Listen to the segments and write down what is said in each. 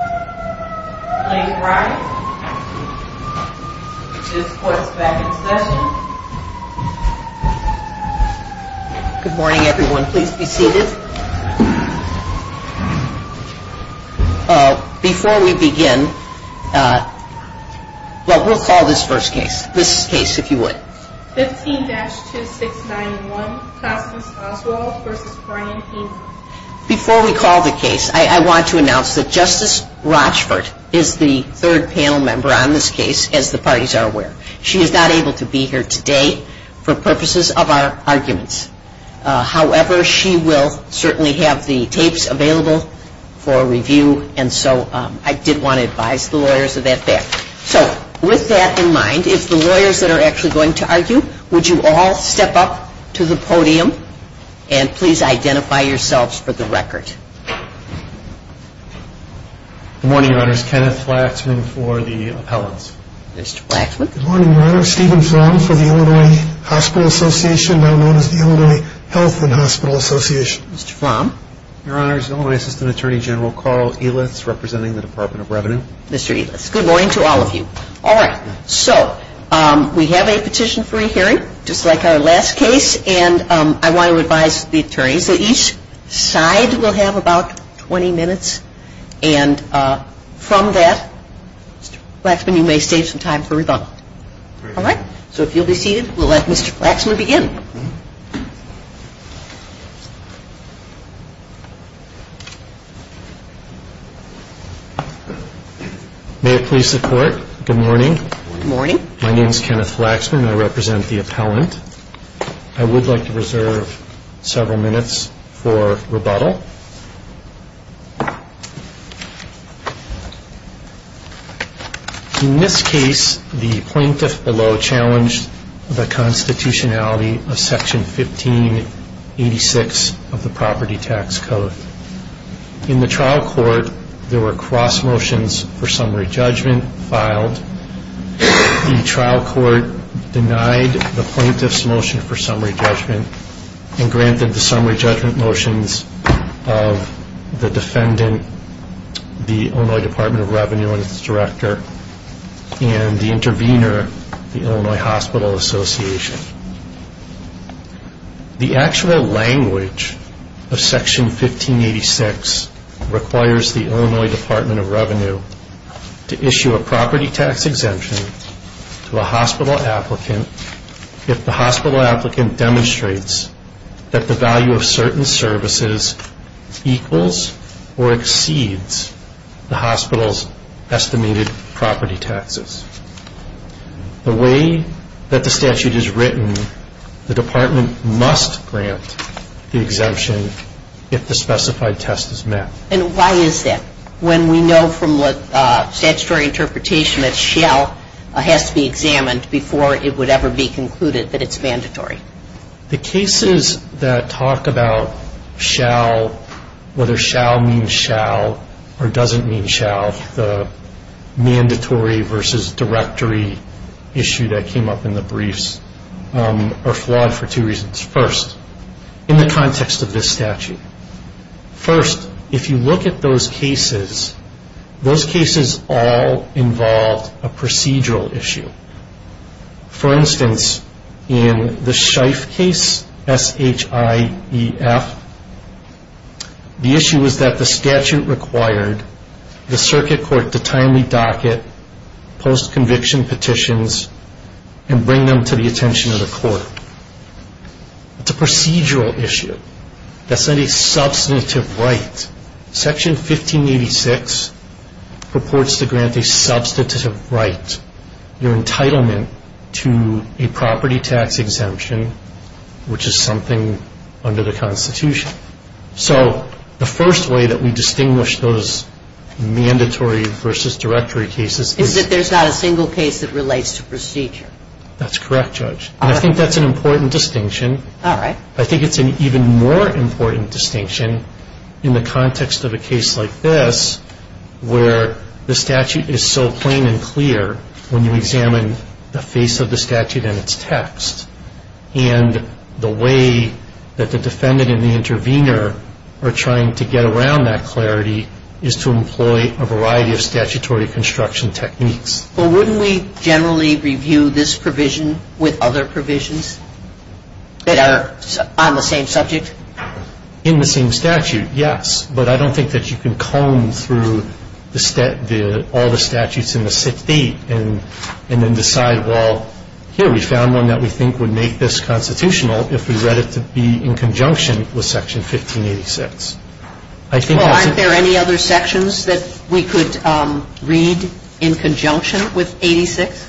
15-2691 Constance Oswald v. Brian Hamer Before we call the case, I want to announce that Justice Rochford is the third panel member on this case, as the parties are aware. She is not able to be here today for purposes of our arguments. However, she will certainly have the tapes available for review, and so I did want to advise the lawyers of that fact. So with that in mind, if the lawyers that are actually going to argue, would you all step up to the podium and please identify yourselves for the record. Good morning, Your Honors. Kenneth Flaxman for the appellants. Mr. Flaxman. Good morning, Your Honors. Stephen Flom for the Illinois Hospital Association, now known as the Illinois Health and Hospital Association. Mr. Flom. Your Honors, Illinois Assistant Attorney General Carl Ehlitz representing the Department of Revenue. Mr. Ehlitz. Good morning to all of you. All right. So we have a petition-free hearing, just like our last case, and I want to advise the attorneys that each side will have about 20 minutes, and from that, Mr. Flaxman, you may save some time for rebuttal. All right? So if you'll be seated, we'll let Mr. Flaxman begin. Good morning. May it please the Court, good morning. Good morning. My name is Kenneth Flaxman. I represent the appellant. I would like to reserve several minutes for rebuttal. In this case, the plaintiff below challenged the constitutionality of Section 1586 of the Property Tax Code. In the trial court, there were cross motions for summary judgment filed. The trial court denied the plaintiff's motion for summary judgment and granted the summary judgment motions of the defendant, the Illinois Department of Revenue and its director, and the intervener, the Illinois Hospital Association. The actual language of Section 1586 requires the Illinois Department of Revenue to issue a property tax exemption to a hospital applicant if the hospital applicant demonstrates that the value of certain services equals or exceeds the hospital's estimated property taxes. The way that the statute is written, the department must grant the exemption if the specified test is met. And why is that? When we know from statutory interpretation that shall has to be examined before it would ever be concluded that it's mandatory. The cases that talk about shall, whether shall means shall or doesn't mean shall, the mandatory versus directory issue that came up in the briefs are flawed for two reasons. First, in the context of this statute. First, if you look at those cases, those cases all involved a procedural issue. For instance, in the Shife case, S-H-I-E-F, the issue was that the statute required the circuit court to timely docket post-conviction petitions and bring them to the attention of the court. It's a procedural issue. That's not a substantive right. Section 1586 purports to grant a substantive right, your entitlement to a property tax exemption, which is something under the Constitution. So the first way that we distinguish those mandatory versus directory cases is Is that there's not a single case that relates to procedure. That's correct, Judge. And I think that's an important distinction. All right. I think it's an even more important distinction in the context of a case like this, where the statute is so plain and clear when you examine the face of the statute and its text. And the way that the defendant and the intervener are trying to get around that clarity is to employ a variety of statutory construction techniques. Well, wouldn't we generally review this provision with other provisions that are on the same subject? In the same statute, yes. But I don't think that you can comb through all the statutes in the 68 and then decide, well, here, we found one that we think would make this constitutional if we read it to be in conjunction with Section 1586. Well, aren't there any other sections that we could read in conjunction with 86?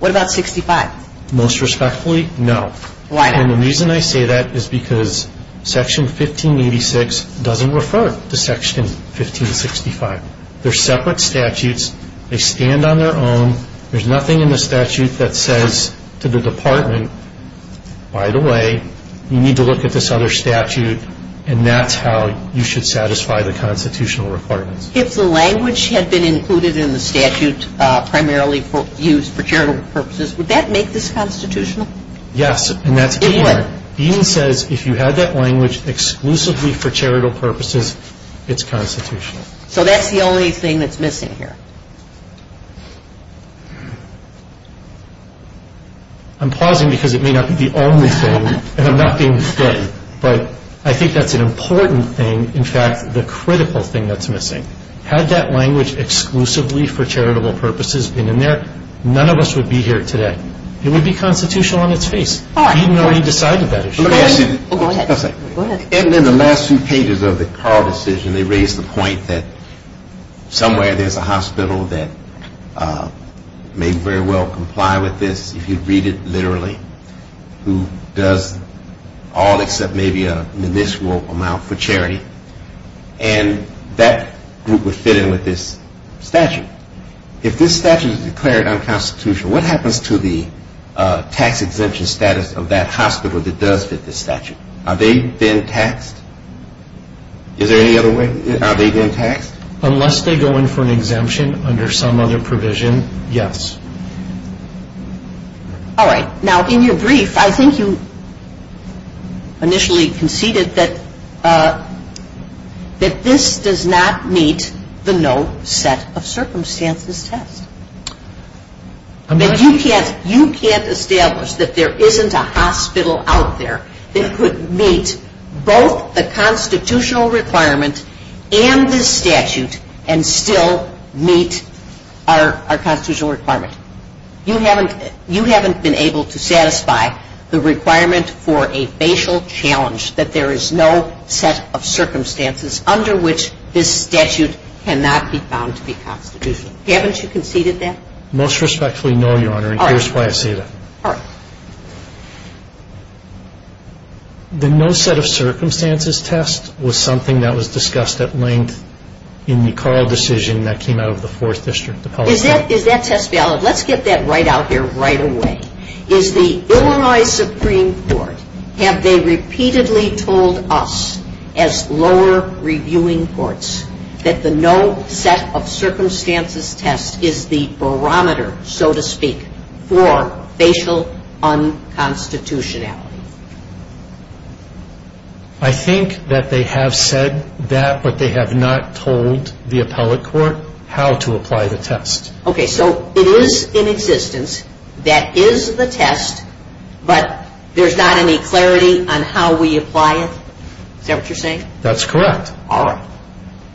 What about 65? Most respectfully, no. Why not? And the reason I say that is because Section 1586 doesn't refer to Section 1565. They're separate statutes. They stand on their own. There's nothing in the statute that says to the department, by the way, you need to look at this other statute, and that's how you should satisfy the constitutional requirements. If the language had been included in the statute primarily used for charitable purposes, would that make this constitutional? Yes. It would. Eden says if you had that language exclusively for charitable purposes, it's constitutional. So that's the only thing that's missing here. I'm pausing because it may not be the only thing, and I'm not being stingy, but I think that's an important thing, in fact, the critical thing that's missing. Had that language exclusively for charitable purposes been in there, none of us would be here today. It would be constitutional on its face. Eden already decided that issue. Go ahead. Go ahead. And in the last few pages of the Carl decision, they raised the point that somewhere there's a hospital that may very well comply with this, if you read it literally, who does all except maybe a miniscule amount for charity, and that group would fit in with this statute. If this statute is declared unconstitutional, what happens to the tax exemption status of that hospital that does fit this statute? Are they then taxed? Is there any other way? Are they then taxed? Unless they go in for an exemption under some other provision, yes. All right. Now, in your brief, I think you initially conceded that this does not meet the no set of circumstances test. You can't establish that there isn't a hospital out there that could meet both the constitutional requirement and this statute and still meet our constitutional requirement. You haven't been able to satisfy the requirement for a facial challenge, that there is no set of circumstances under which this statute cannot be found to be constitutional. Haven't you conceded that? Most respectfully, no, Your Honor, and here's why I say that. All right. The no set of circumstances test was something that was discussed at length in the Carl decision that came out of the Fourth District, the Pellissippi. Is that test valid? Let's get that right out here right away. Is the Illinois Supreme Court, have they repeatedly told us as lower reviewing courts that the no set of circumstances test is the barometer, so to speak, for facial unconstitutionality? I think that they have said that, but they have not told the appellate court how to apply the test. Okay. So it is in existence, that is the test, but there's not any clarity on how we apply it? Is that what you're saying? That's correct. All right.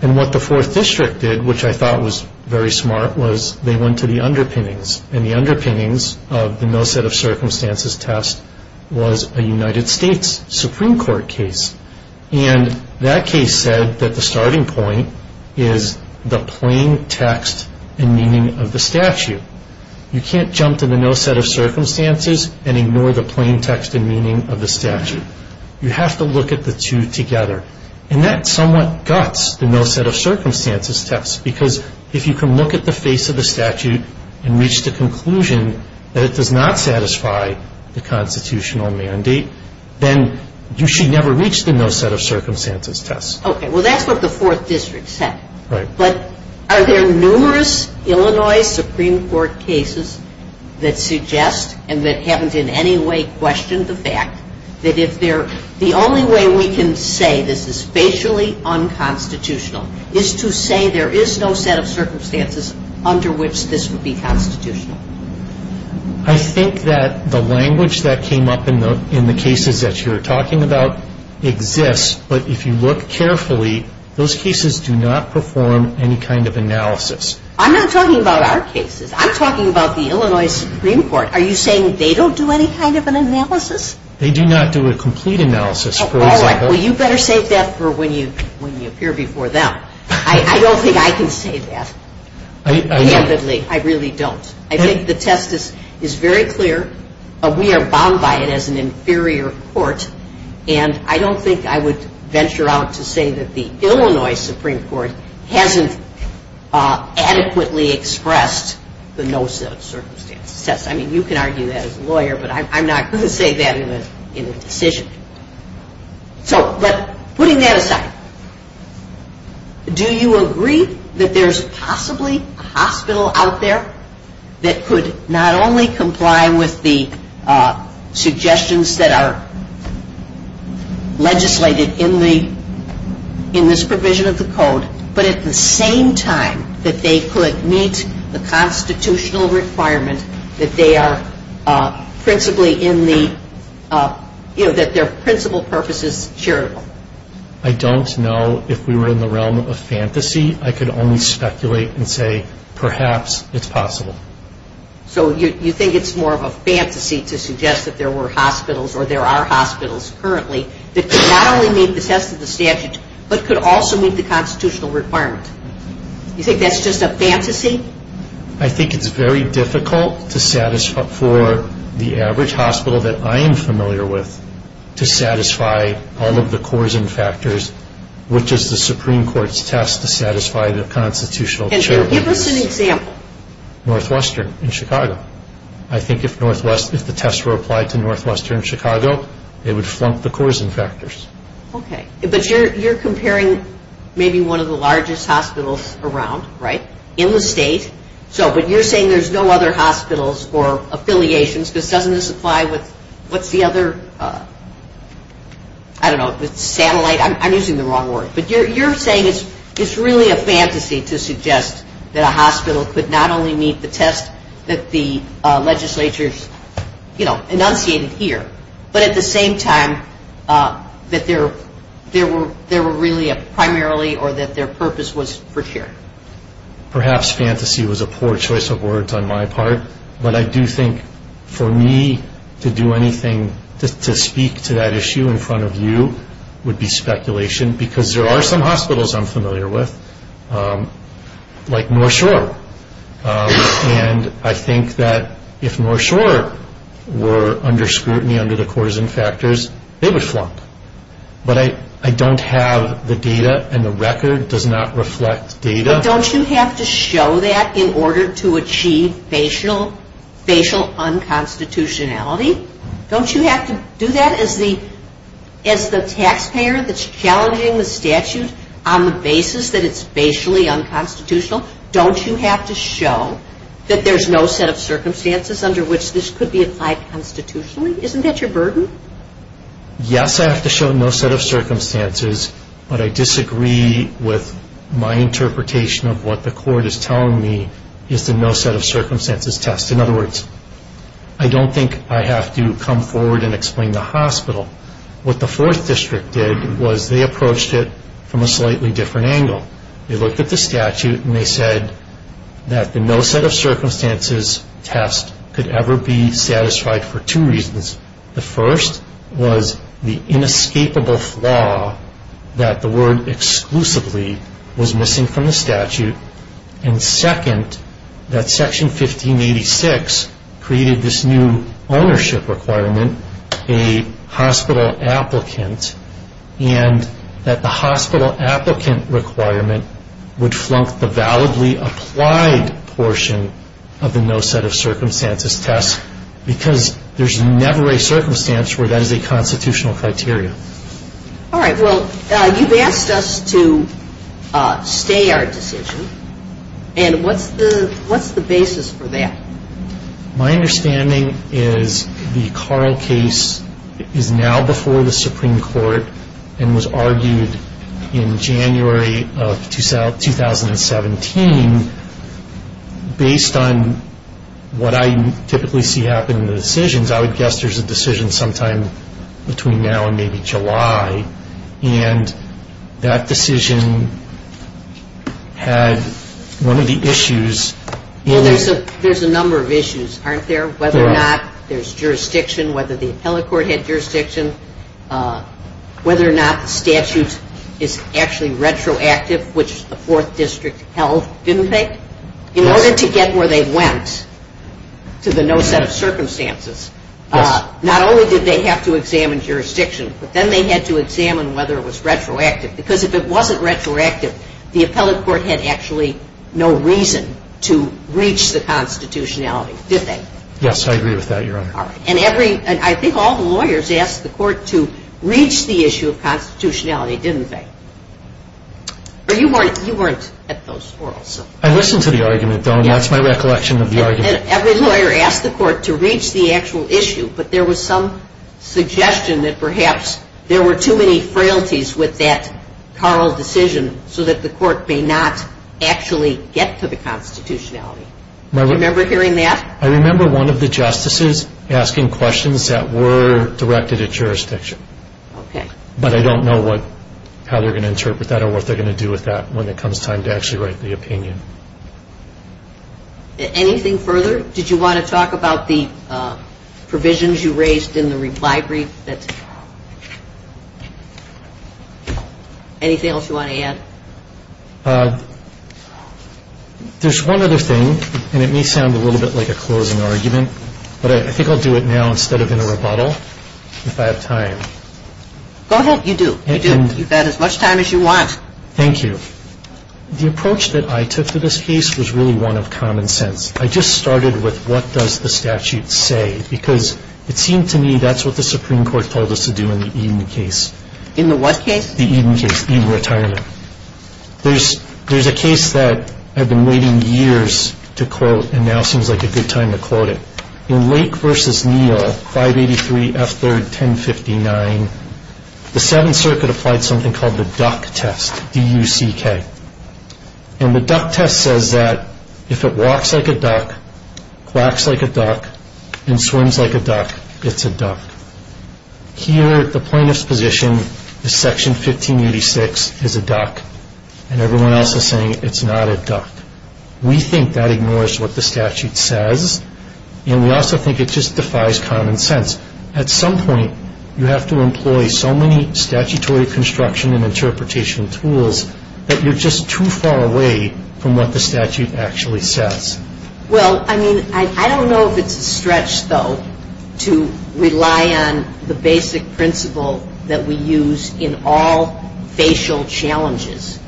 And what the Fourth District did, which I thought was very smart, was they went to the underpinnings, and the underpinnings of the no set of circumstances test was a United States Supreme Court case, and that case said that the starting point is the plain text and meaning of the statute. You can't jump to the no set of circumstances and ignore the plain text and meaning of the statute. You have to look at the two together, and that somewhat guts the no set of circumstances test, because if you can look at the face of the statute and reach the conclusion that it does not satisfy the constitutional mandate, then you should never reach the no set of circumstances test. Okay. Well, that's what the Fourth District said. Right. But are there numerous Illinois Supreme Court cases that suggest and that haven't in any way questioned the fact that the only way we can say this is facially unconstitutional is to say there is no set of circumstances under which this would be constitutional? I think that the language that came up in the cases that you're talking about exists, but if you look carefully, those cases do not perform any kind of analysis. I'm not talking about our cases. I'm talking about the Illinois Supreme Court. Are you saying they don't do any kind of an analysis? They do not do a complete analysis. All right. Well, you better save that for when you appear before them. I don't think I can say that. I really don't. I think the test is very clear. We are bound by it as an inferior court, and I don't think I would venture out to say that the Illinois Supreme Court hasn't adequately expressed the no set of circumstances. I mean, you can argue that as a lawyer, but I'm not going to say that in a decision. So, but putting that aside, do you agree that there's possibly a hospital out there that could not only comply with the suggestions that are legislated in this provision of the code, but at the same time that they could meet the constitutional requirement that they are principally in the, you know, that their principal purpose is charitable? I don't know if we were in the realm of fantasy. I could only speculate and say perhaps it's possible. So you think it's more of a fantasy to suggest that there were hospitals or there are hospitals currently that could not only meet the test of the statute, but could also meet the constitutional requirement? You think that's just a fantasy? I think it's very difficult for the average hospital that I am familiar with to satisfy all of the cores and factors, which is the Supreme Court's test to satisfy the constitutional requirements. Give us an example. Northwestern in Chicago. I think if the tests were applied to Northwestern in Chicago, it would flunk the cores and factors. Okay. But you're comparing maybe one of the largest hospitals around, right, in the state. So, but you're saying there's no other hospitals or affiliations, because doesn't this apply with, what's the other, I don't know, satellite? I'm using the wrong word. But you're saying it's really a fantasy to suggest that a hospital could not only meet the test that the legislature's, you know, enunciated here, but at the same time that there were really primarily or that their purpose was for sure. Perhaps fantasy was a poor choice of words on my part, but I do think for me to do anything to speak to that issue in front of you would be speculation, because there are some hospitals I'm familiar with, like North Shore. And I think that if North Shore were under scrutiny under the cores and factors, they would flunk. But I don't have the data, and the record does not reflect data. But don't you have to show that in order to achieve facial unconstitutionality? Don't you have to do that as the taxpayer that's challenging the statute on the basis that it's facially unconstitutional? Don't you have to show that there's no set of circumstances under which this could be applied constitutionally? Isn't that your burden? Yes, I have to show no set of circumstances, but I disagree with my interpretation of what the court is telling me is the no set of circumstances test. In other words, I don't think I have to come forward and explain the hospital. What the Fourth District did was they approached it from a slightly different angle. They looked at the statute, and they said that the no set of circumstances test could ever be satisfied for two reasons. The first was the inescapable flaw that the word exclusively was missing from the statute. And second, that Section 1586 created this new ownership requirement, a hospital applicant, and that the hospital applicant requirement would flunk the validly applied portion of the no set of circumstances test because there's never a circumstance where that is a constitutional criteria. All right. Well, you've asked us to stay our decision, and what's the basis for that? My understanding is the Carl case is now before the Supreme Court and was argued in January of 2017. Based on what I typically see happen in the decisions, I would guess there's a decision sometime between now and maybe July, and that decision had one of the issues in it. Well, there's a number of issues, aren't there? Whether or not there's jurisdiction, whether the appellate court had jurisdiction, whether or not the statute is actually retroactive, which the Fourth District held, didn't they? In order to get where they went to the no set of circumstances, not only did they have to examine jurisdiction, but then they had to examine whether it was retroactive because if it wasn't retroactive, the appellate court had actually no reason to reach the constitutionality, did they? Yes, I agree with that, Your Honor. All right. And I think all the lawyers asked the court to reach the issue of constitutionality, didn't they? You weren't at those quarrels. I listened to the argument, though, and that's my recollection of the argument. Every lawyer asked the court to reach the actual issue, but there was some suggestion that perhaps there were too many frailties with that Carl decision so that the court may not actually get to the constitutionality. Do you remember hearing that? I remember one of the justices asking questions that were directed at jurisdiction. Okay. But I don't know how they're going to interpret that or what they're going to do with that when it comes time to actually write the opinion. Anything further? Did you want to talk about the provisions you raised in the reply brief? That's it. Anything else you want to add? There's one other thing, and it may sound a little bit like a closing argument, but I think I'll do it now instead of in a rebuttal if I have time. Go ahead. You do. You do. You've got as much time as you want. Thank you. The approach that I took to this case was really one of common sense. I just started with what does the statute say? Because it seemed to me that's what the Supreme Court told us to do in the Eden case. In the what case? The Eden case, Eden retirement. There's a case that I've been waiting years to quote and now seems like a good time to quote it. In Lake v. Neal, 583 F3rd 1059, the Seventh Circuit applied something called the duck test, D-U-C-K. And the duck test says that if it walks like a duck, quacks like a duck, and swims like a duck, it's a duck. Here, the plaintiff's position is Section 1586 is a duck, and everyone else is saying it's not a duck. We think that ignores what the statute says, and we also think it just defies common sense. At some point, you have to employ so many statutory construction and interpretation tools that you're just too far away from what the statute actually says. Well, I mean, I don't know if it's a stretch, though, to rely on the basic principle that we use in all facial challenges,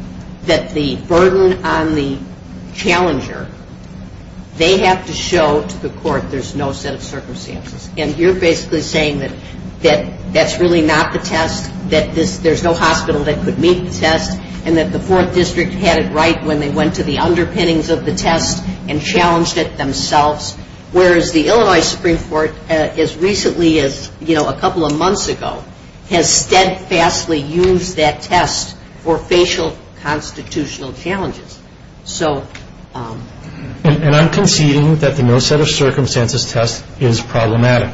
that the burden on the challenger, they have to show to the court there's no set of circumstances. And you're basically saying that that's really not the test, that there's no hospital that could meet the test, and that the Fourth District had it right when they went to the underpinnings of the test and challenged it themselves, whereas the Illinois Supreme Court, as recently as a couple of months ago, has steadfastly used that test for facial constitutional challenges. And I'm conceding that the no set of circumstances test is problematic.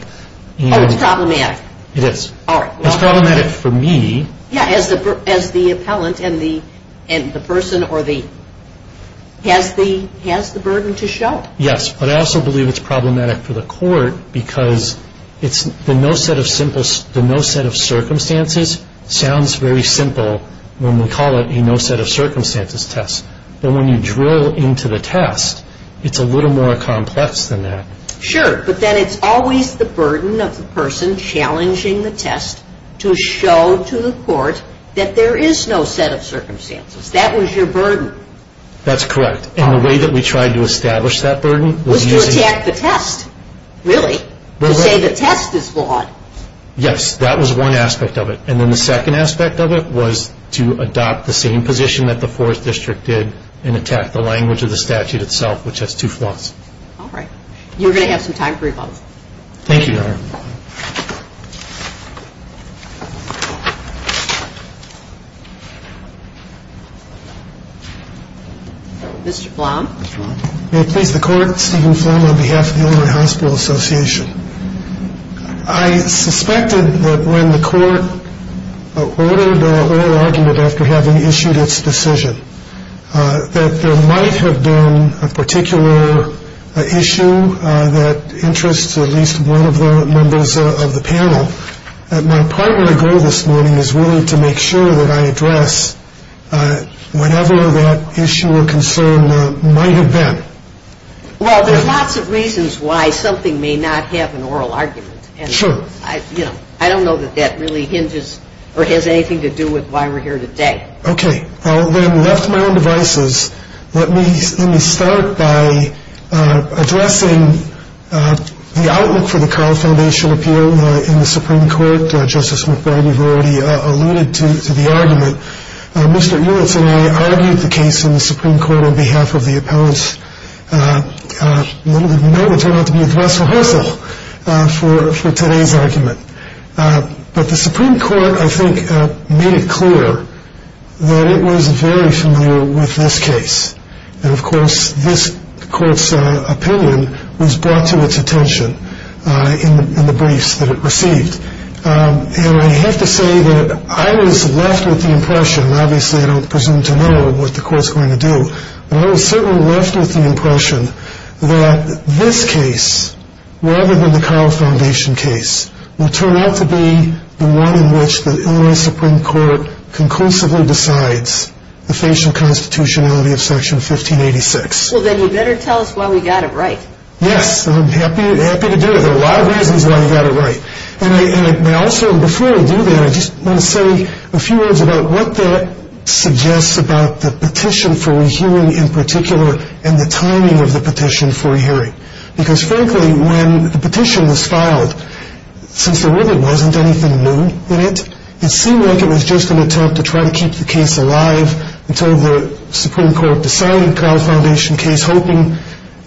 Oh, it's problematic? It is. It's problematic for me. Yeah, as the appellant and the person or the, has the burden to show. Yes, but I also believe it's problematic for the court because the no set of circumstances sounds very simple when we call it a no set of circumstances test. But when you drill into the test, it's a little more complex than that. Sure, but then it's always the burden of the person challenging the test to show to the court that there is no set of circumstances. That was your burden. That's correct. And the way that we tried to establish that burden was using... Was to attack the test. Really? To say the test is flawed. Yes, that was one aspect of it. And then the second aspect of it was to adopt the same position that the Fourth District did and attack the language of the statute itself, which has two flaws. All right. You're going to have some time for rebuttal. Thank you, Your Honor. Mr. Flom. May it please the Court, Stephen Flom on behalf of the Illinois Hospital Association. I suspected that when the court ordered oral argument after having issued its decision that there might have been a particular issue that interests at least one of the members of the panel. My primary goal this morning is really to make sure that I address whatever that issue or concern might have been. Well, there's lots of reasons why something may not have an oral argument. Sure. I don't know that that really hinges or has anything to do with why we're here today. Okay. I'll then left my own devices. Let me start by addressing the outlook for the Carl Foundation appeal in the Supreme Court. Justice McBride, you've already alluded to the argument. Mr. Eulitz and I argued the case in the Supreme Court on behalf of the appellants. It may turn out to be a thrustful hustle for today's argument. But the Supreme Court, I think, made it clear that it was very familiar with this case. And, of course, this court's opinion was brought to its attention in the briefs that it received. And I have to say that I was left with the impression, and obviously I don't presume to know what the court's going to do, but I was certainly left with the impression that this case, rather than the Carl Foundation case, will turn out to be the one in which the Illinois Supreme Court conclusively decides the facial constitutionality of Section 1586. Well, then you better tell us why we got it right. Yes, I'm happy to do it. There are a lot of reasons why we got it right. And I also, before I do that, I just want to say a few words about what that suggests about the petition for re-hearing in particular and the timing of the petition for re-hearing. Because, frankly, when the petition was filed, since there really wasn't anything new in it, it seemed like it was just an attempt to try to keep the case alive until the Supreme Court decided the Carl Foundation case, and was hoping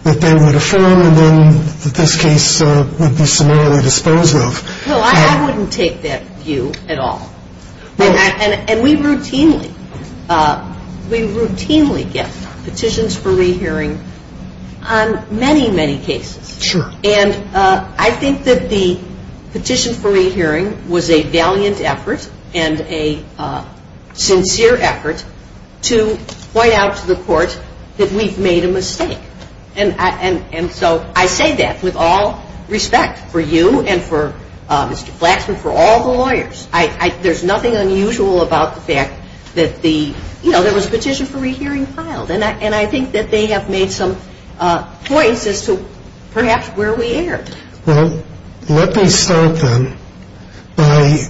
that they would affirm and then that this case would be summarily disposed of. Well, I wouldn't take that view at all. And we routinely get petitions for re-hearing on many, many cases. And I think that the petition for re-hearing was a valiant effort and a sincere effort to point out to the court that we've made a mistake. And so I say that with all respect for you and for Mr. Flaxman, for all the lawyers. There's nothing unusual about the fact that there was a petition for re-hearing filed. And I think that they have made some points as to perhaps where we erred. Well, let me start then by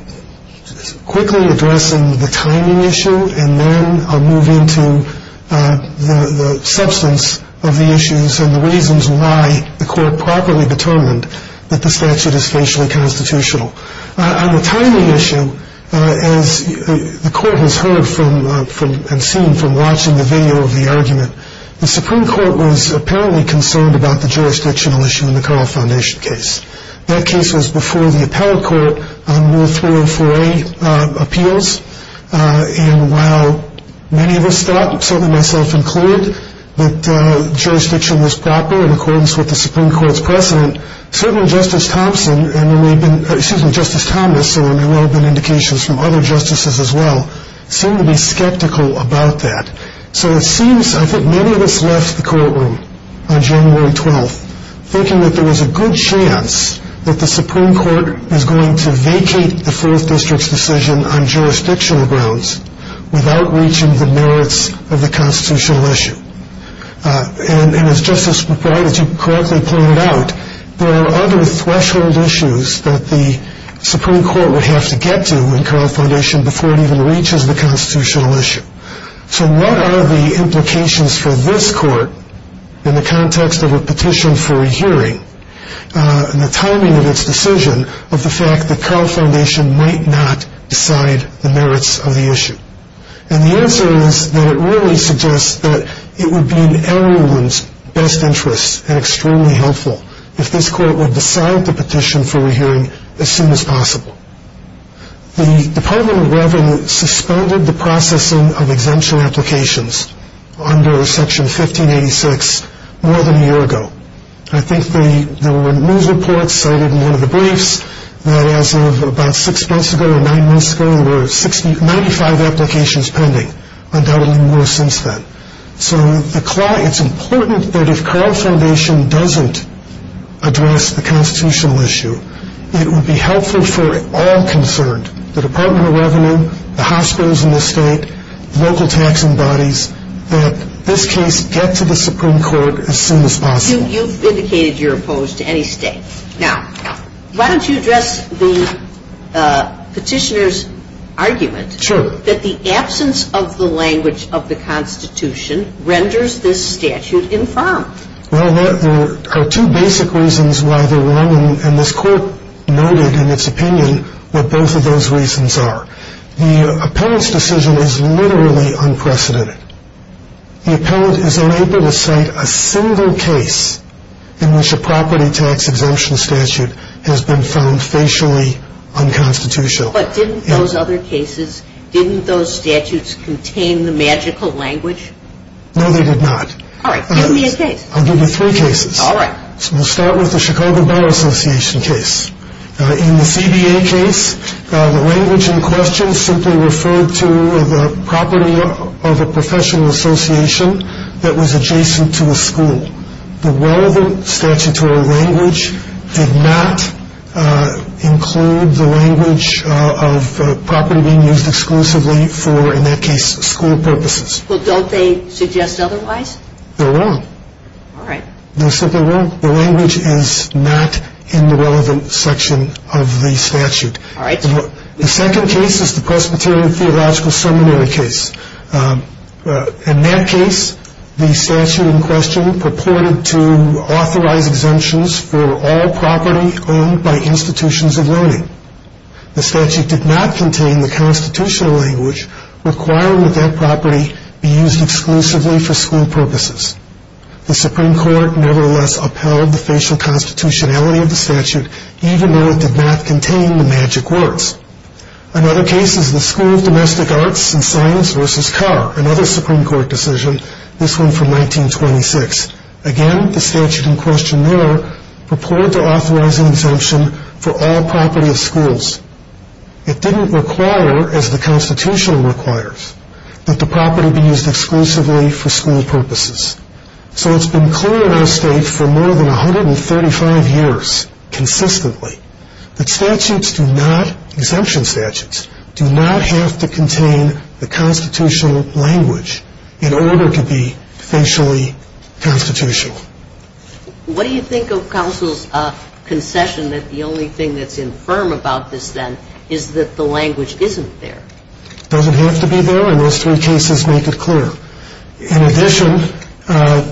quickly addressing the timing issue, and then I'll move into the substance of the issues and the reasons why the court properly determined that the statute is facially constitutional. On the timing issue, as the court has heard from and seen from watching the video of the argument, the Supreme Court was apparently concerned about the jurisdictional issue in the Carl Foundation case. That case was before the appellate court on Rule 304A appeals. And while many of us thought, some of myself included, that jurisdiction was proper in accordance with the Supreme Court's precedent, certain Justice Thomas and there may well have been indications from other justices as well, seemed to be skeptical about that. So it seems, I think many of us left the courtroom on January 12th thinking that there was a good chance that the Supreme Court was going to vacate the 4th District's decision on jurisdictional grounds without reaching the merits of the constitutional issue. And as Justice McBride, as you correctly pointed out, there are other threshold issues that the Supreme Court would have to get to in Carl Foundation before it even reaches the constitutional issue. So what are the implications for this court in the context of a petition for a hearing and the timing of its decision of the fact that Carl Foundation might not decide the merits of the issue? And the answer is that it really suggests that it would be in everyone's best interest and extremely helpful if this court would decide the petition for a hearing as soon as possible. The Department of Revenue suspended the processing of exemption applications under Section 1586 more than a year ago. I think there were news reports cited in one of the briefs that as of about six months ago or nine months ago, there were 95 applications pending, undoubtedly more since then. So it's important that if Carl Foundation doesn't address the constitutional issue, it would be helpful for all concerned, the Department of Revenue, the hospitals in the state, local taxing bodies, that this case get to the Supreme Court as soon as possible. You've indicated you're opposed to any state. Now, why don't you address the petitioner's argument that the absence of the language of the Constitution renders this statute infirm? Well, there are two basic reasons why they're wrong, and this court noted in its opinion what both of those reasons are. The appellant's decision is literally unprecedented. The appellant is unable to cite a single case in which a property tax exemption statute has been found facially unconstitutional. But didn't those other cases, didn't those statutes contain the magical language? No, they did not. All right, give me a case. I'll give you three cases. All right. We'll start with the Chicago Bar Association case. In the CBA case, the language in question simply referred to the property of a professional association that was adjacent to a school. The relevant statutory language did not include the language of property being used exclusively for, in that case, school purposes. Well, don't they suggest otherwise? They're wrong. All right. They're simply wrong. The language is not in the relevant section of the statute. All right. The second case is the Presbyterian Theological Seminary case. In that case, the statute in question purported to authorize exemptions for all property owned by institutions of learning. The statute did not contain the constitutional language requiring that that property be used exclusively for school purposes. The Supreme Court nevertheless upheld the facial constitutionality of the statute, even though it did not contain the magic words. Another case is the School of Domestic Arts and Science v. Carr, another Supreme Court decision, this one from 1926. Again, the statute in question there purported to authorize an exemption for all property of schools. It didn't require, as the Constitution requires, that the property be used exclusively for school purposes. So it's been clear in our state for more than 135 years consistently that statutes do not, exemption statutes, do not have to contain the constitutional language in order to be facially constitutional. What do you think of counsel's concession that the only thing that's infirm about this, then, is that the language isn't there? It doesn't have to be there, and those three cases make it clear. In addition, as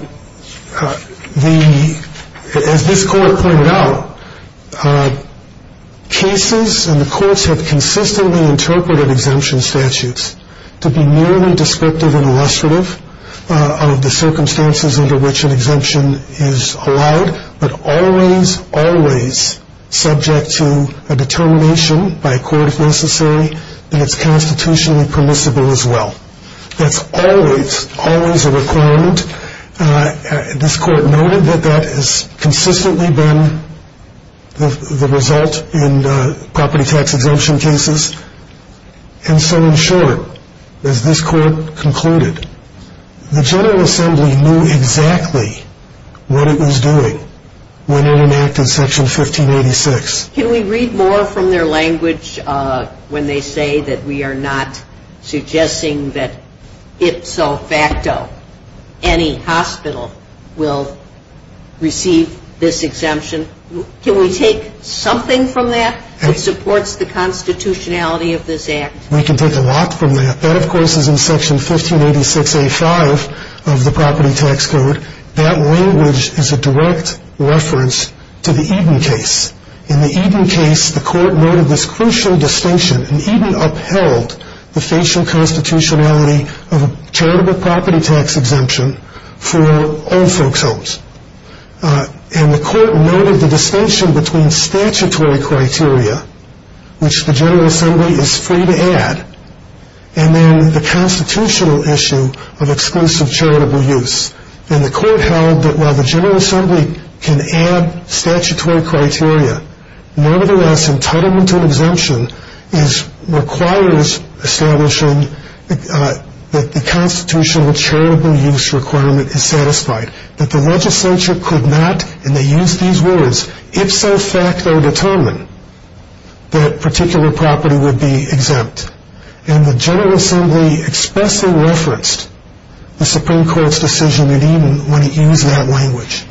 this Court pointed out, cases and the courts have consistently interpreted exemption statutes to be merely descriptive and illustrative of the circumstances under which an exemption is allowed, but always, always subject to a determination by a court, if necessary, that it's constitutionally permissible as well. That's always, always a requirement. This Court noted that that has consistently been the result in property tax exemption cases. And so, in short, as this Court concluded, the General Assembly knew exactly what it was doing when it enacted Section 1586. Can we read more from their language when they say that we are not suggesting that ipso facto any hospital will receive this exemption? Can we take something from that that supports the constitutionality of this Act? We can take a lot from that. That, of course, is in Section 1586A5 of the Property Tax Code. That language is a direct reference to the Eden case. In the Eden case, the Court noted this crucial distinction, and Eden upheld the facial constitutionality of a charitable property tax exemption for all folks' homes. And the Court noted the distinction between statutory criteria, which the General Assembly is free to add, and then the constitutional issue of exclusive charitable use. And the Court held that while the General Assembly can add statutory criteria, nevertheless entitlement to an exemption requires establishing that the constitutional charitable use requirement is satisfied, that the legislature could not, and they used these words, ipso facto determine that particular property would be exempt. And the General Assembly expressly referenced the Supreme Court's decision in Eden when it used that language.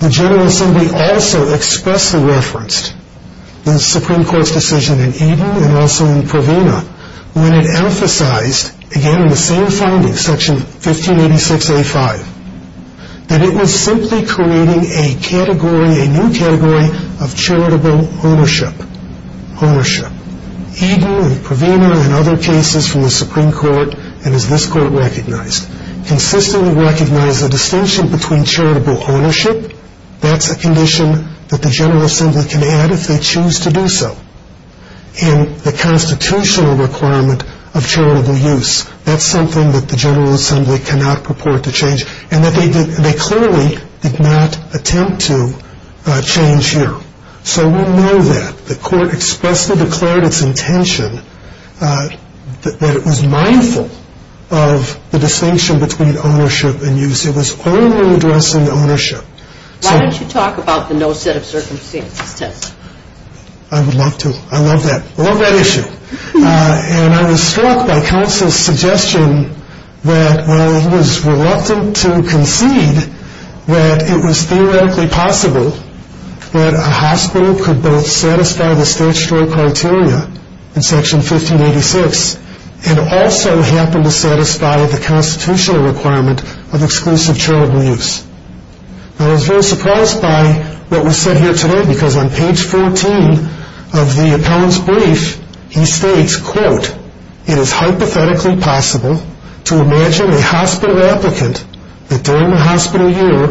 The General Assembly also expressly referenced the Supreme Court's decision in Eden and also in Provena when it emphasized, again in the same finding, Section 1586A5, that it was simply creating a category, a new category of charitable ownership. Eden and Provena and other cases from the Supreme Court, and as this Court recognized, consistently recognized the distinction between charitable ownership, that's a condition that the General Assembly can add if they choose to do so, and the constitutional requirement of charitable use, that's something that the General Assembly cannot purport to change, and that they clearly did not attempt to change here. So we know that. The Court expressly declared its intention that it was mindful of the distinction between ownership and use. It was only addressing ownership. Why don't you talk about the no set of circumstances test? I would love to. I love that. I love that issue. And I was struck by counsel's suggestion that while he was reluctant to concede that it was theoretically possible that a hospital could both satisfy the statutory criteria in Section 1586 and also happen to satisfy the constitutional requirement of exclusive charitable use. I was very surprised by what was said here today because on page 14 of the appellant's brief, he states, quote, it is hypothetically possible to imagine a hospital applicant that during the hospital year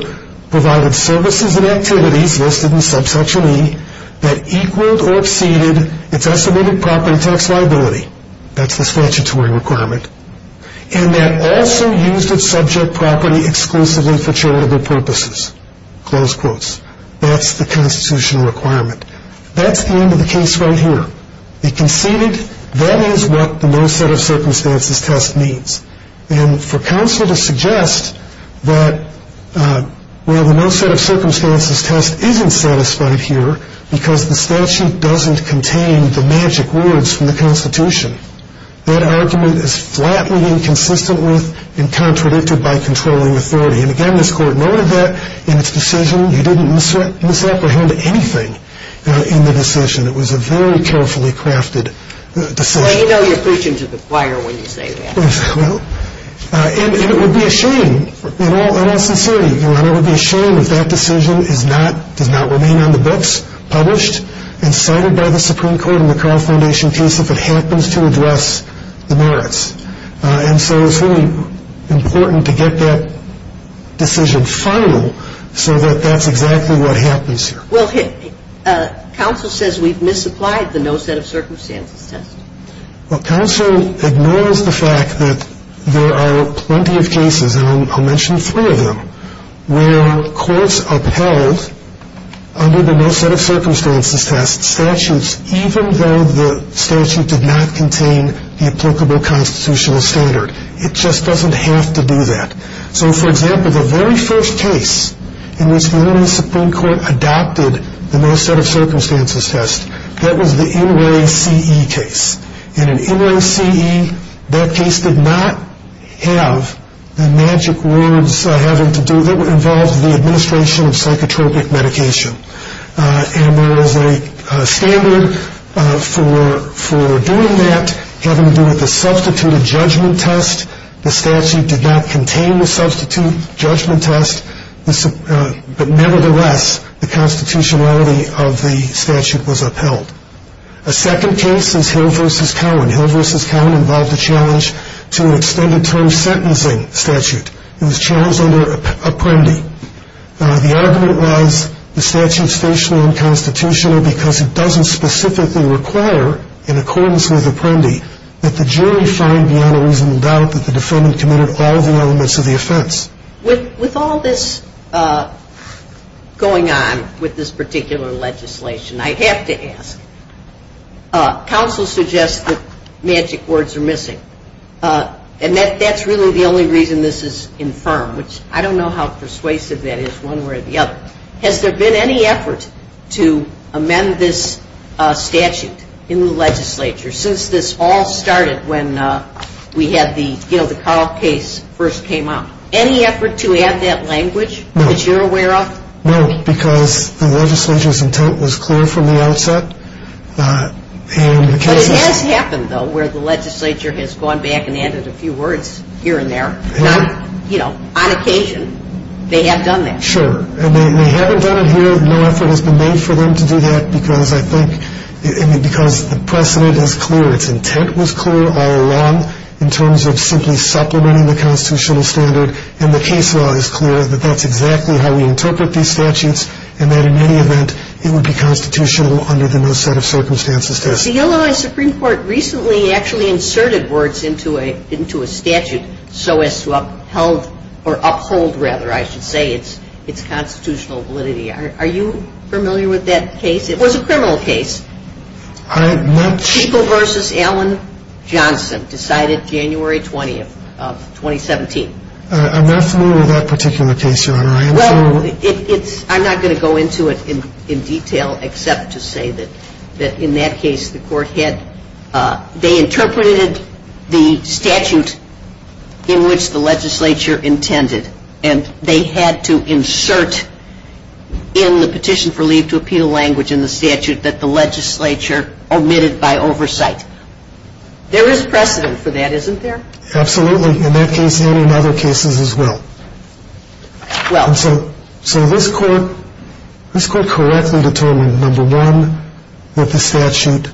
provided services and activities listed in subsection E that equaled or exceeded its estimated property tax liability. That's the statutory requirement. And that also used its subject property exclusively for charitable purposes. Close quotes. That's the constitutional requirement. That's the end of the case right here. He conceded that is what the no set of circumstances test means. And for counsel to suggest that, well, the no set of circumstances test isn't satisfied here because the statute doesn't contain the magic words from the Constitution, that argument is flatly inconsistent with and contradicted by controlling authority. And, again, this Court noted that in its decision you didn't misapprehend anything in the decision. It was a very carefully crafted decision. Well, you know you're preaching to the choir when you say that. And it would be a shame, in all sincerity, Your Honor, it would be a shame if that decision does not remain on the books published and cited by the Supreme Court in the Carl Foundation case if it happens to address the merits. And so it's really important to get that decision final so that that's exactly what happens here. Well, counsel says we've misapplied the no set of circumstances test. Well, counsel ignores the fact that there are plenty of cases, and I'll mention three of them, where courts upheld under the no set of circumstances test statutes even though the statute did not contain the applicable constitutional standard. It just doesn't have to do that. So, for example, the very first case in which the Illinois Supreme Court adopted the no set of circumstances test, that was the Inouye C.E. case. In an Inouye C.E., that case did not have the magic words having to do, that involved the administration of psychotropic medication. And there was a standard for doing that having to do with the substituted judgment test. The statute did not contain the substituted judgment test, but nevertheless the constitutionality of the statute was upheld. A second case is Hill v. Cowan. Hill v. Cowan involved a challenge to an extended term sentencing statute. It was challenged under Apprendi. The argument was the statute's stationary and constitutional because it doesn't specifically require in accordance with Apprendi that the jury find beyond a reasonable doubt that the defendant committed all the elements of the offense. With all this going on with this particular legislation, I have to ask, counsel suggests that magic words are missing. And that's really the only reason this is infirm, which I don't know how persuasive that is one way or the other. Has there been any effort to amend this statute in the legislature since this all started when we had the Carl case first came out? Any effort to add that language that you're aware of? No, because the legislature's intent was clear from the outset. But it has happened, though, where the legislature has gone back and added a few words here and there. You know, on occasion they have done that. Sure. And they haven't done it here. No effort has been made for them to do that because I think the precedent is clear. Its intent was clear all along in terms of simply supplementing the constitutional standard. And the case law is clear that that's exactly how we interpret these statutes and that in any event it would be constitutional under the no set of circumstances test. The Illinois Supreme Court recently actually inserted words into a statute so as to upheld or uphold, rather, I should say, its constitutional validity. Are you familiar with that case? It was a criminal case. I'm not sure. Bishop v. Allen Johnson decided January 20th of 2017. I'm not familiar with that particular case, Your Honor. Well, I'm not going to go into it in detail except to say that in that case the court had, they interpreted the statute in which the legislature intended and they had to insert in the petition for leave to appeal language in the statute that the legislature omitted by oversight. There is precedent for that, isn't there? Absolutely. In that case and in other cases as well. So this court correctly determined, number one, that the statute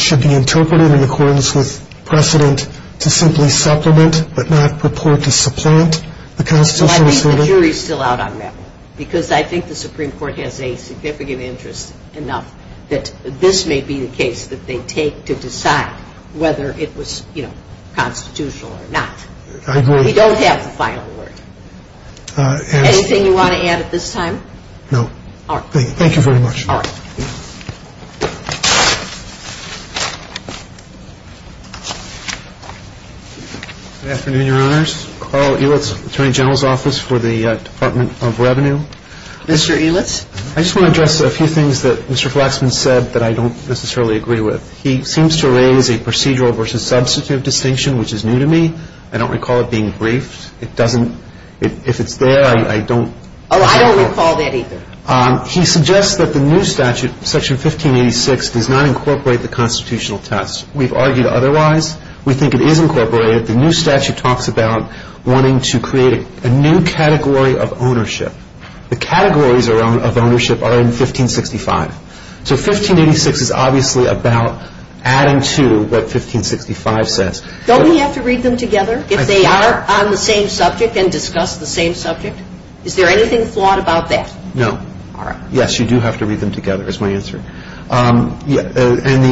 should be interpreted in accordance with precedent to simply supplement but not purport to supplant the constitutional standard. The jury is still out on that one because I think the Supreme Court has a significant interest enough that this may be the case that they take to decide whether it was constitutional or not. I agree. We don't have the final word. Anything you want to add at this time? No. All right. Thank you very much. All right. Good afternoon, Your Honors. Carl Elitz, Attorney General's Office for the Department of Revenue. Mr. Elitz. I just want to address a few things that Mr. Flaxman said that I don't necessarily agree with. He seems to raise a procedural versus substantive distinction, which is new to me. I don't recall it being briefed. It doesn't, if it's there, I don't. Oh, I don't recall that either. He suggests that the new statute, Section 1586, does not incorporate the constitutional test. We've argued otherwise. We think it is incorporated. The new statute talks about wanting to create a new category of ownership. The categories of ownership are in 1565. So 1586 is obviously about adding to what 1565 says. Don't we have to read them together if they are on the same subject and discuss the same subject? Is there anything flawed about that? No. Yes, you do have to read them together, is my answer. And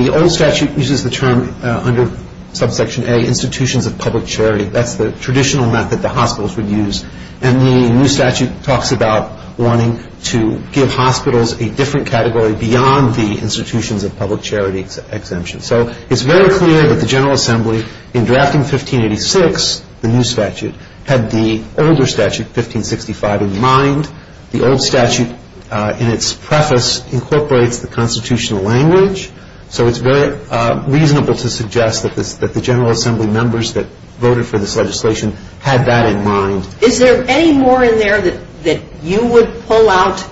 the old statute uses the term under Subsection A, institutions of public charity. That's the traditional method the hospitals would use. And the new statute talks about wanting to give hospitals a different category beyond the institutions of public charity exemption. So it's very clear that the General Assembly, in drafting 1586, the new statute, had the older statute, 1565, in mind. The old statute, in its preface, incorporates the constitutional language. So it's very reasonable to suggest that the General Assembly members that voted for this legislation had that in mind. Is there any more in there that you would pull out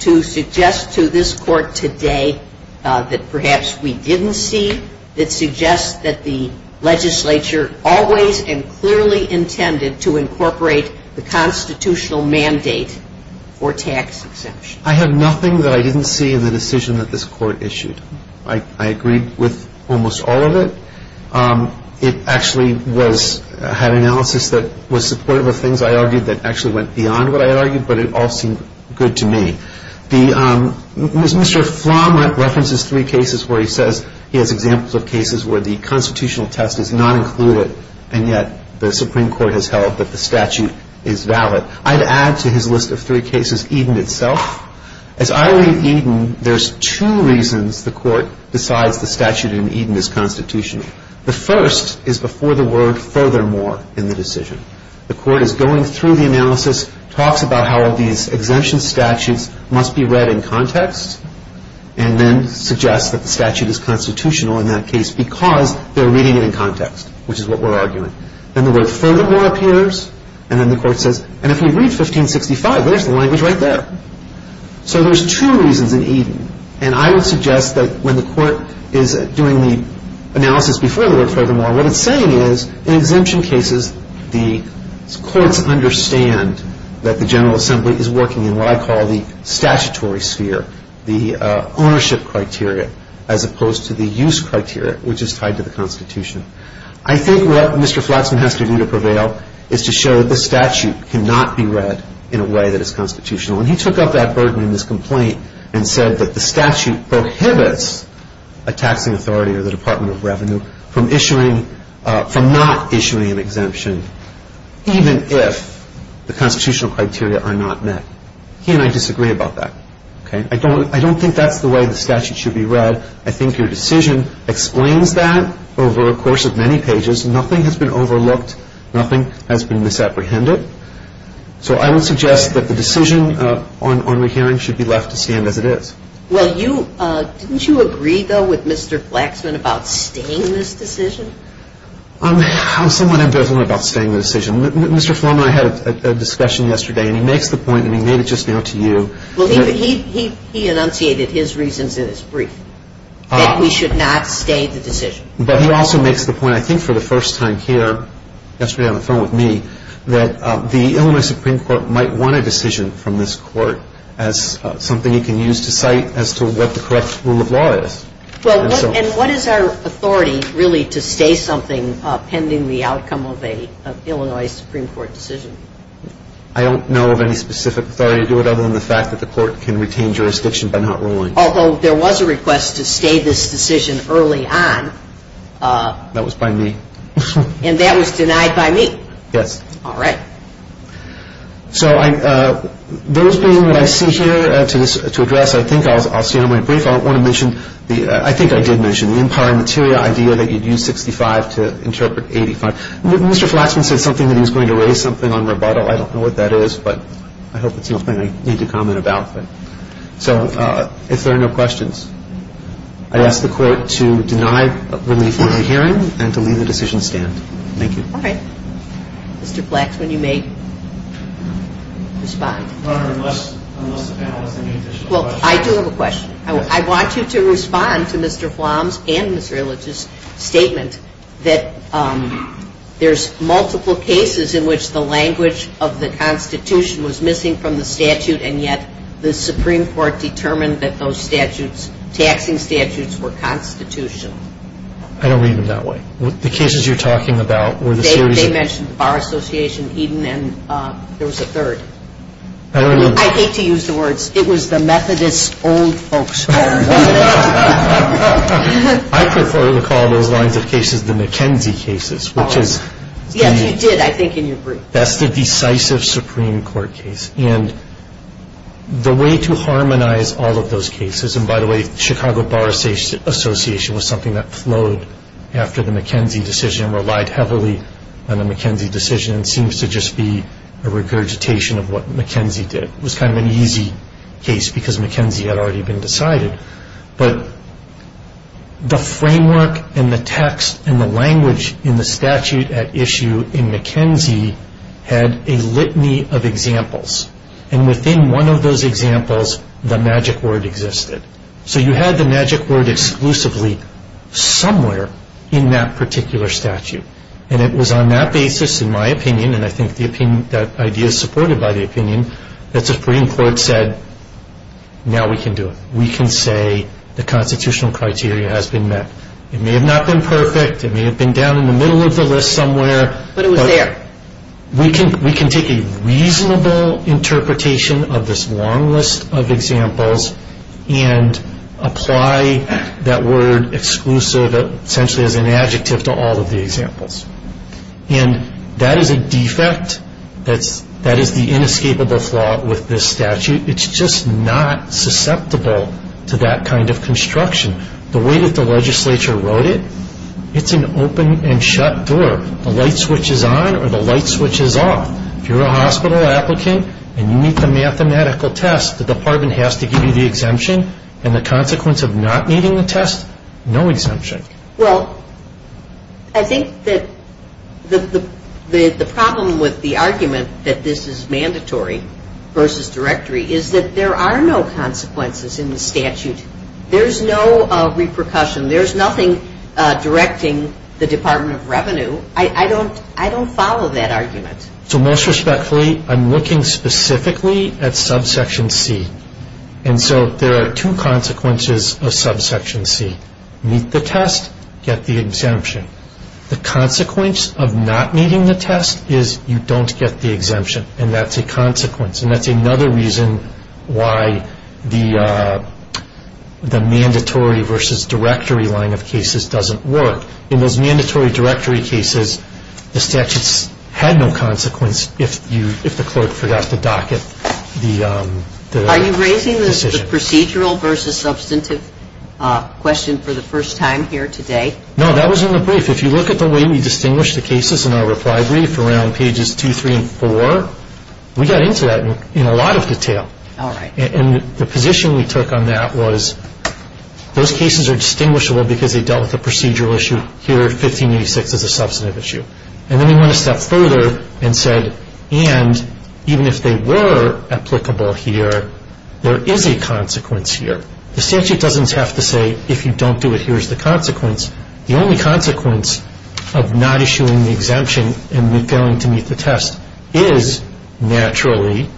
to suggest to this Court today that perhaps we didn't see, that suggests that the legislature always and clearly intended to incorporate the constitutional mandate for tax exemption? I have nothing that I didn't see in the decision that this Court issued. I agreed with almost all of it. It actually had analysis that was supportive of things I argued that actually went beyond what I argued, but it all seemed good to me. Mr. Flom references three cases where he says he has examples of cases where the constitutional test is not included, and yet the Supreme Court has held that the statute is valid. I'd add to his list of three cases Eden itself. As I read Eden, there's two reasons the Court decides the statute in Eden is constitutional. The first is before the word furthermore in the decision. The Court is going through the analysis, talks about how these exemption statutes must be read in context, and then suggests that the statute is constitutional in that case because they're reading it in context, which is what we're arguing. Then the word furthermore appears, and then the Court says, and if you read 1565, there's the language right there. So there's two reasons in Eden, and I would suggest that when the Court is doing the analysis before the word furthermore, what it's saying is in exemption cases, the courts understand that the General Assembly is working in what I call the statutory sphere, the ownership criteria as opposed to the use criteria, which is tied to the Constitution. I think what Mr. Flaxman has to do to prevail is to show that the statute cannot be read in a way that is constitutional, and he took up that burden in his complaint and said that the statute prohibits a taxing authority or the Department of Revenue from not issuing an exemption even if the constitutional criteria are not met. He and I disagree about that. I don't think that's the way the statute should be read. I think your decision explains that over a course of many pages. Nothing has been overlooked. Nothing has been misapprehended. So I would suggest that the decision on the hearing should be left to stand as it is. Well, didn't you agree, though, with Mr. Flaxman about staying this decision? I'm somewhat ambivalent about staying the decision. Mr. Florman and I had a discussion yesterday, and he makes the point, and he made it just now to you. Well, he enunciated his reasons in his brief, that we should not stay the decision. But he also makes the point, I think for the first time here, yesterday on the phone with me, that the Illinois Supreme Court might want a decision from this court as something it can use to cite as to what the correct rule of law is. And what is our authority really to stay something pending the outcome of an Illinois Supreme Court decision? I don't know of any specific authority to do it other than the fact that the court can retain jurisdiction by not ruling. Although there was a request to stay this decision early on. That was by me. And that was denied by me. Yes. All right. So those being what I see here to address, I think I'll stay on my brief. I want to mention, I think I did mention the Empire Materia idea that you'd use 65 to interpret 85. Mr. Flaxman said something that he was going to raise something on rebuttal. I don't know what that is, but I hope it's nothing I need to comment about. So if there are no questions, I ask the court to deny relief of the hearing and to leave the decision stand. Thank you. All right. Mr. Flaxman, you may respond. Your Honor, unless the panel has any additional questions. Well, I do have a question. I want you to respond to Mr. Flom's and Ms. Relich's statement that there's multiple cases in which the language of the Constitution was missing from the statute, and yet the Supreme Court determined that those statutes, taxing statutes, were constitutional. I don't read them that way. The cases you're talking about were the series of- They mentioned the Bar Association, Eden, and there was a third. I hate to use the words. It was the Methodist old folks. I prefer to call those lines of cases the McKenzie cases, which is- Yes, you did, I think, in your brief. That's the decisive Supreme Court case. And the way to harmonize all of those cases, and by the way, the Chicago Bar Association was something that flowed after the McKenzie decision and relied heavily on the McKenzie decision and seems to just be a regurgitation of what McKenzie did. It was kind of an easy case because McKenzie had already been decided. But the framework and the text and the language in the statute at issue in McKenzie had a litany of examples, and within one of those examples, the magic word existed. So you had the magic word exclusively somewhere in that particular statute. And it was on that basis, in my opinion, and I think that idea is supported by the opinion, that the Supreme Court said, now we can do it. We can say the constitutional criteria has been met. It may have not been perfect. It may have been down in the middle of the list somewhere. But it was there. We can take a reasonable interpretation of this long list of examples and apply that word exclusive essentially as an adjective to all of the examples. And that is a defect. That is the inescapable flaw with this statute. It's just not susceptible to that kind of construction. The way that the legislature wrote it, it's an open and shut door. The light switch is on or the light switch is off. If you're a hospital applicant and you meet the mathematical test, the department has to give you the exemption. And the consequence of not meeting the test, no exemption. Well, I think that the problem with the argument that this is mandatory versus directory is that there are no consequences in the statute. There's no repercussion. There's nothing directing the Department of Revenue. I don't follow that argument. So most respectfully, I'm looking specifically at subsection C. And so there are two consequences of subsection C. Meet the test, get the exemption. The consequence of not meeting the test is you don't get the exemption. And that's a consequence. And that's another reason why the mandatory versus directory line of cases doesn't work. In those mandatory directory cases, the statutes had no consequence if the clerk forgot to docket the decision. Are you raising the procedural versus substantive question for the first time here today? No, that was in the brief. If you look at the way we distinguish the cases in our reply brief around pages 2, 3, and 4, we got into that in a lot of detail. All right. And the position we took on that was those cases are distinguishable because they dealt with the procedural issue. Here, 1586 is a substantive issue. And then we went a step further and said, and even if they were applicable here, there is a consequence here. The statute doesn't have to say if you don't do it, here's the consequence. The only consequence of not issuing the exemption and failing to meet the test is naturally.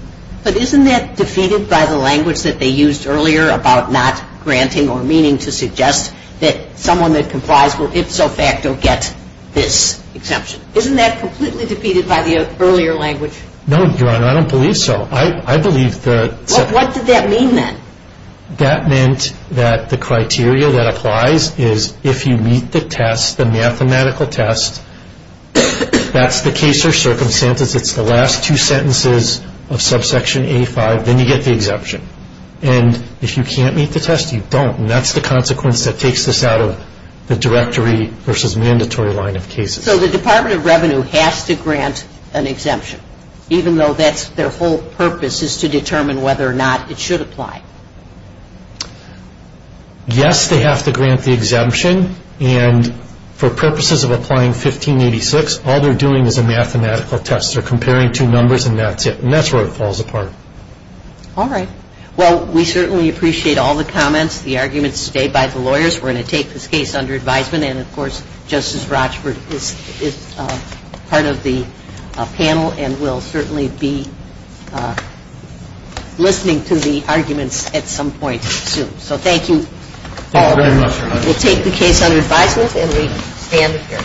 But isn't that defeated by the language that they used earlier about not granting or meaning to suggest that someone that complies will ipso facto get this exemption? Isn't that completely defeated by the earlier language? No, Your Honor. I don't believe so. I believe that. What did that mean then? That meant that the criteria that applies is if you meet the test, the mathematical test, that's the case or circumstances, it's the last two sentences of subsection A5, then you get the exemption. And if you can't meet the test, you don't. And that's the consequence that takes this out of the directory versus mandatory line of cases. So they have to grant the exemption, even though that's their whole purpose, is to determine whether or not it should apply. Yes, they have to grant the exemption. And for purposes of applying 1586, all they're doing is a mathematical test. They're comparing two numbers and that's it. And that's where it falls apart. All right. All right. Thank you. We're going to take this case under advisement. And, of course, Justice Rochford is part of the panel and will certainly be listening to the arguments at some point soon. So thank you, Paul. Thank you very much, Your Honor. We'll take the case under advisement and we stand adjourned.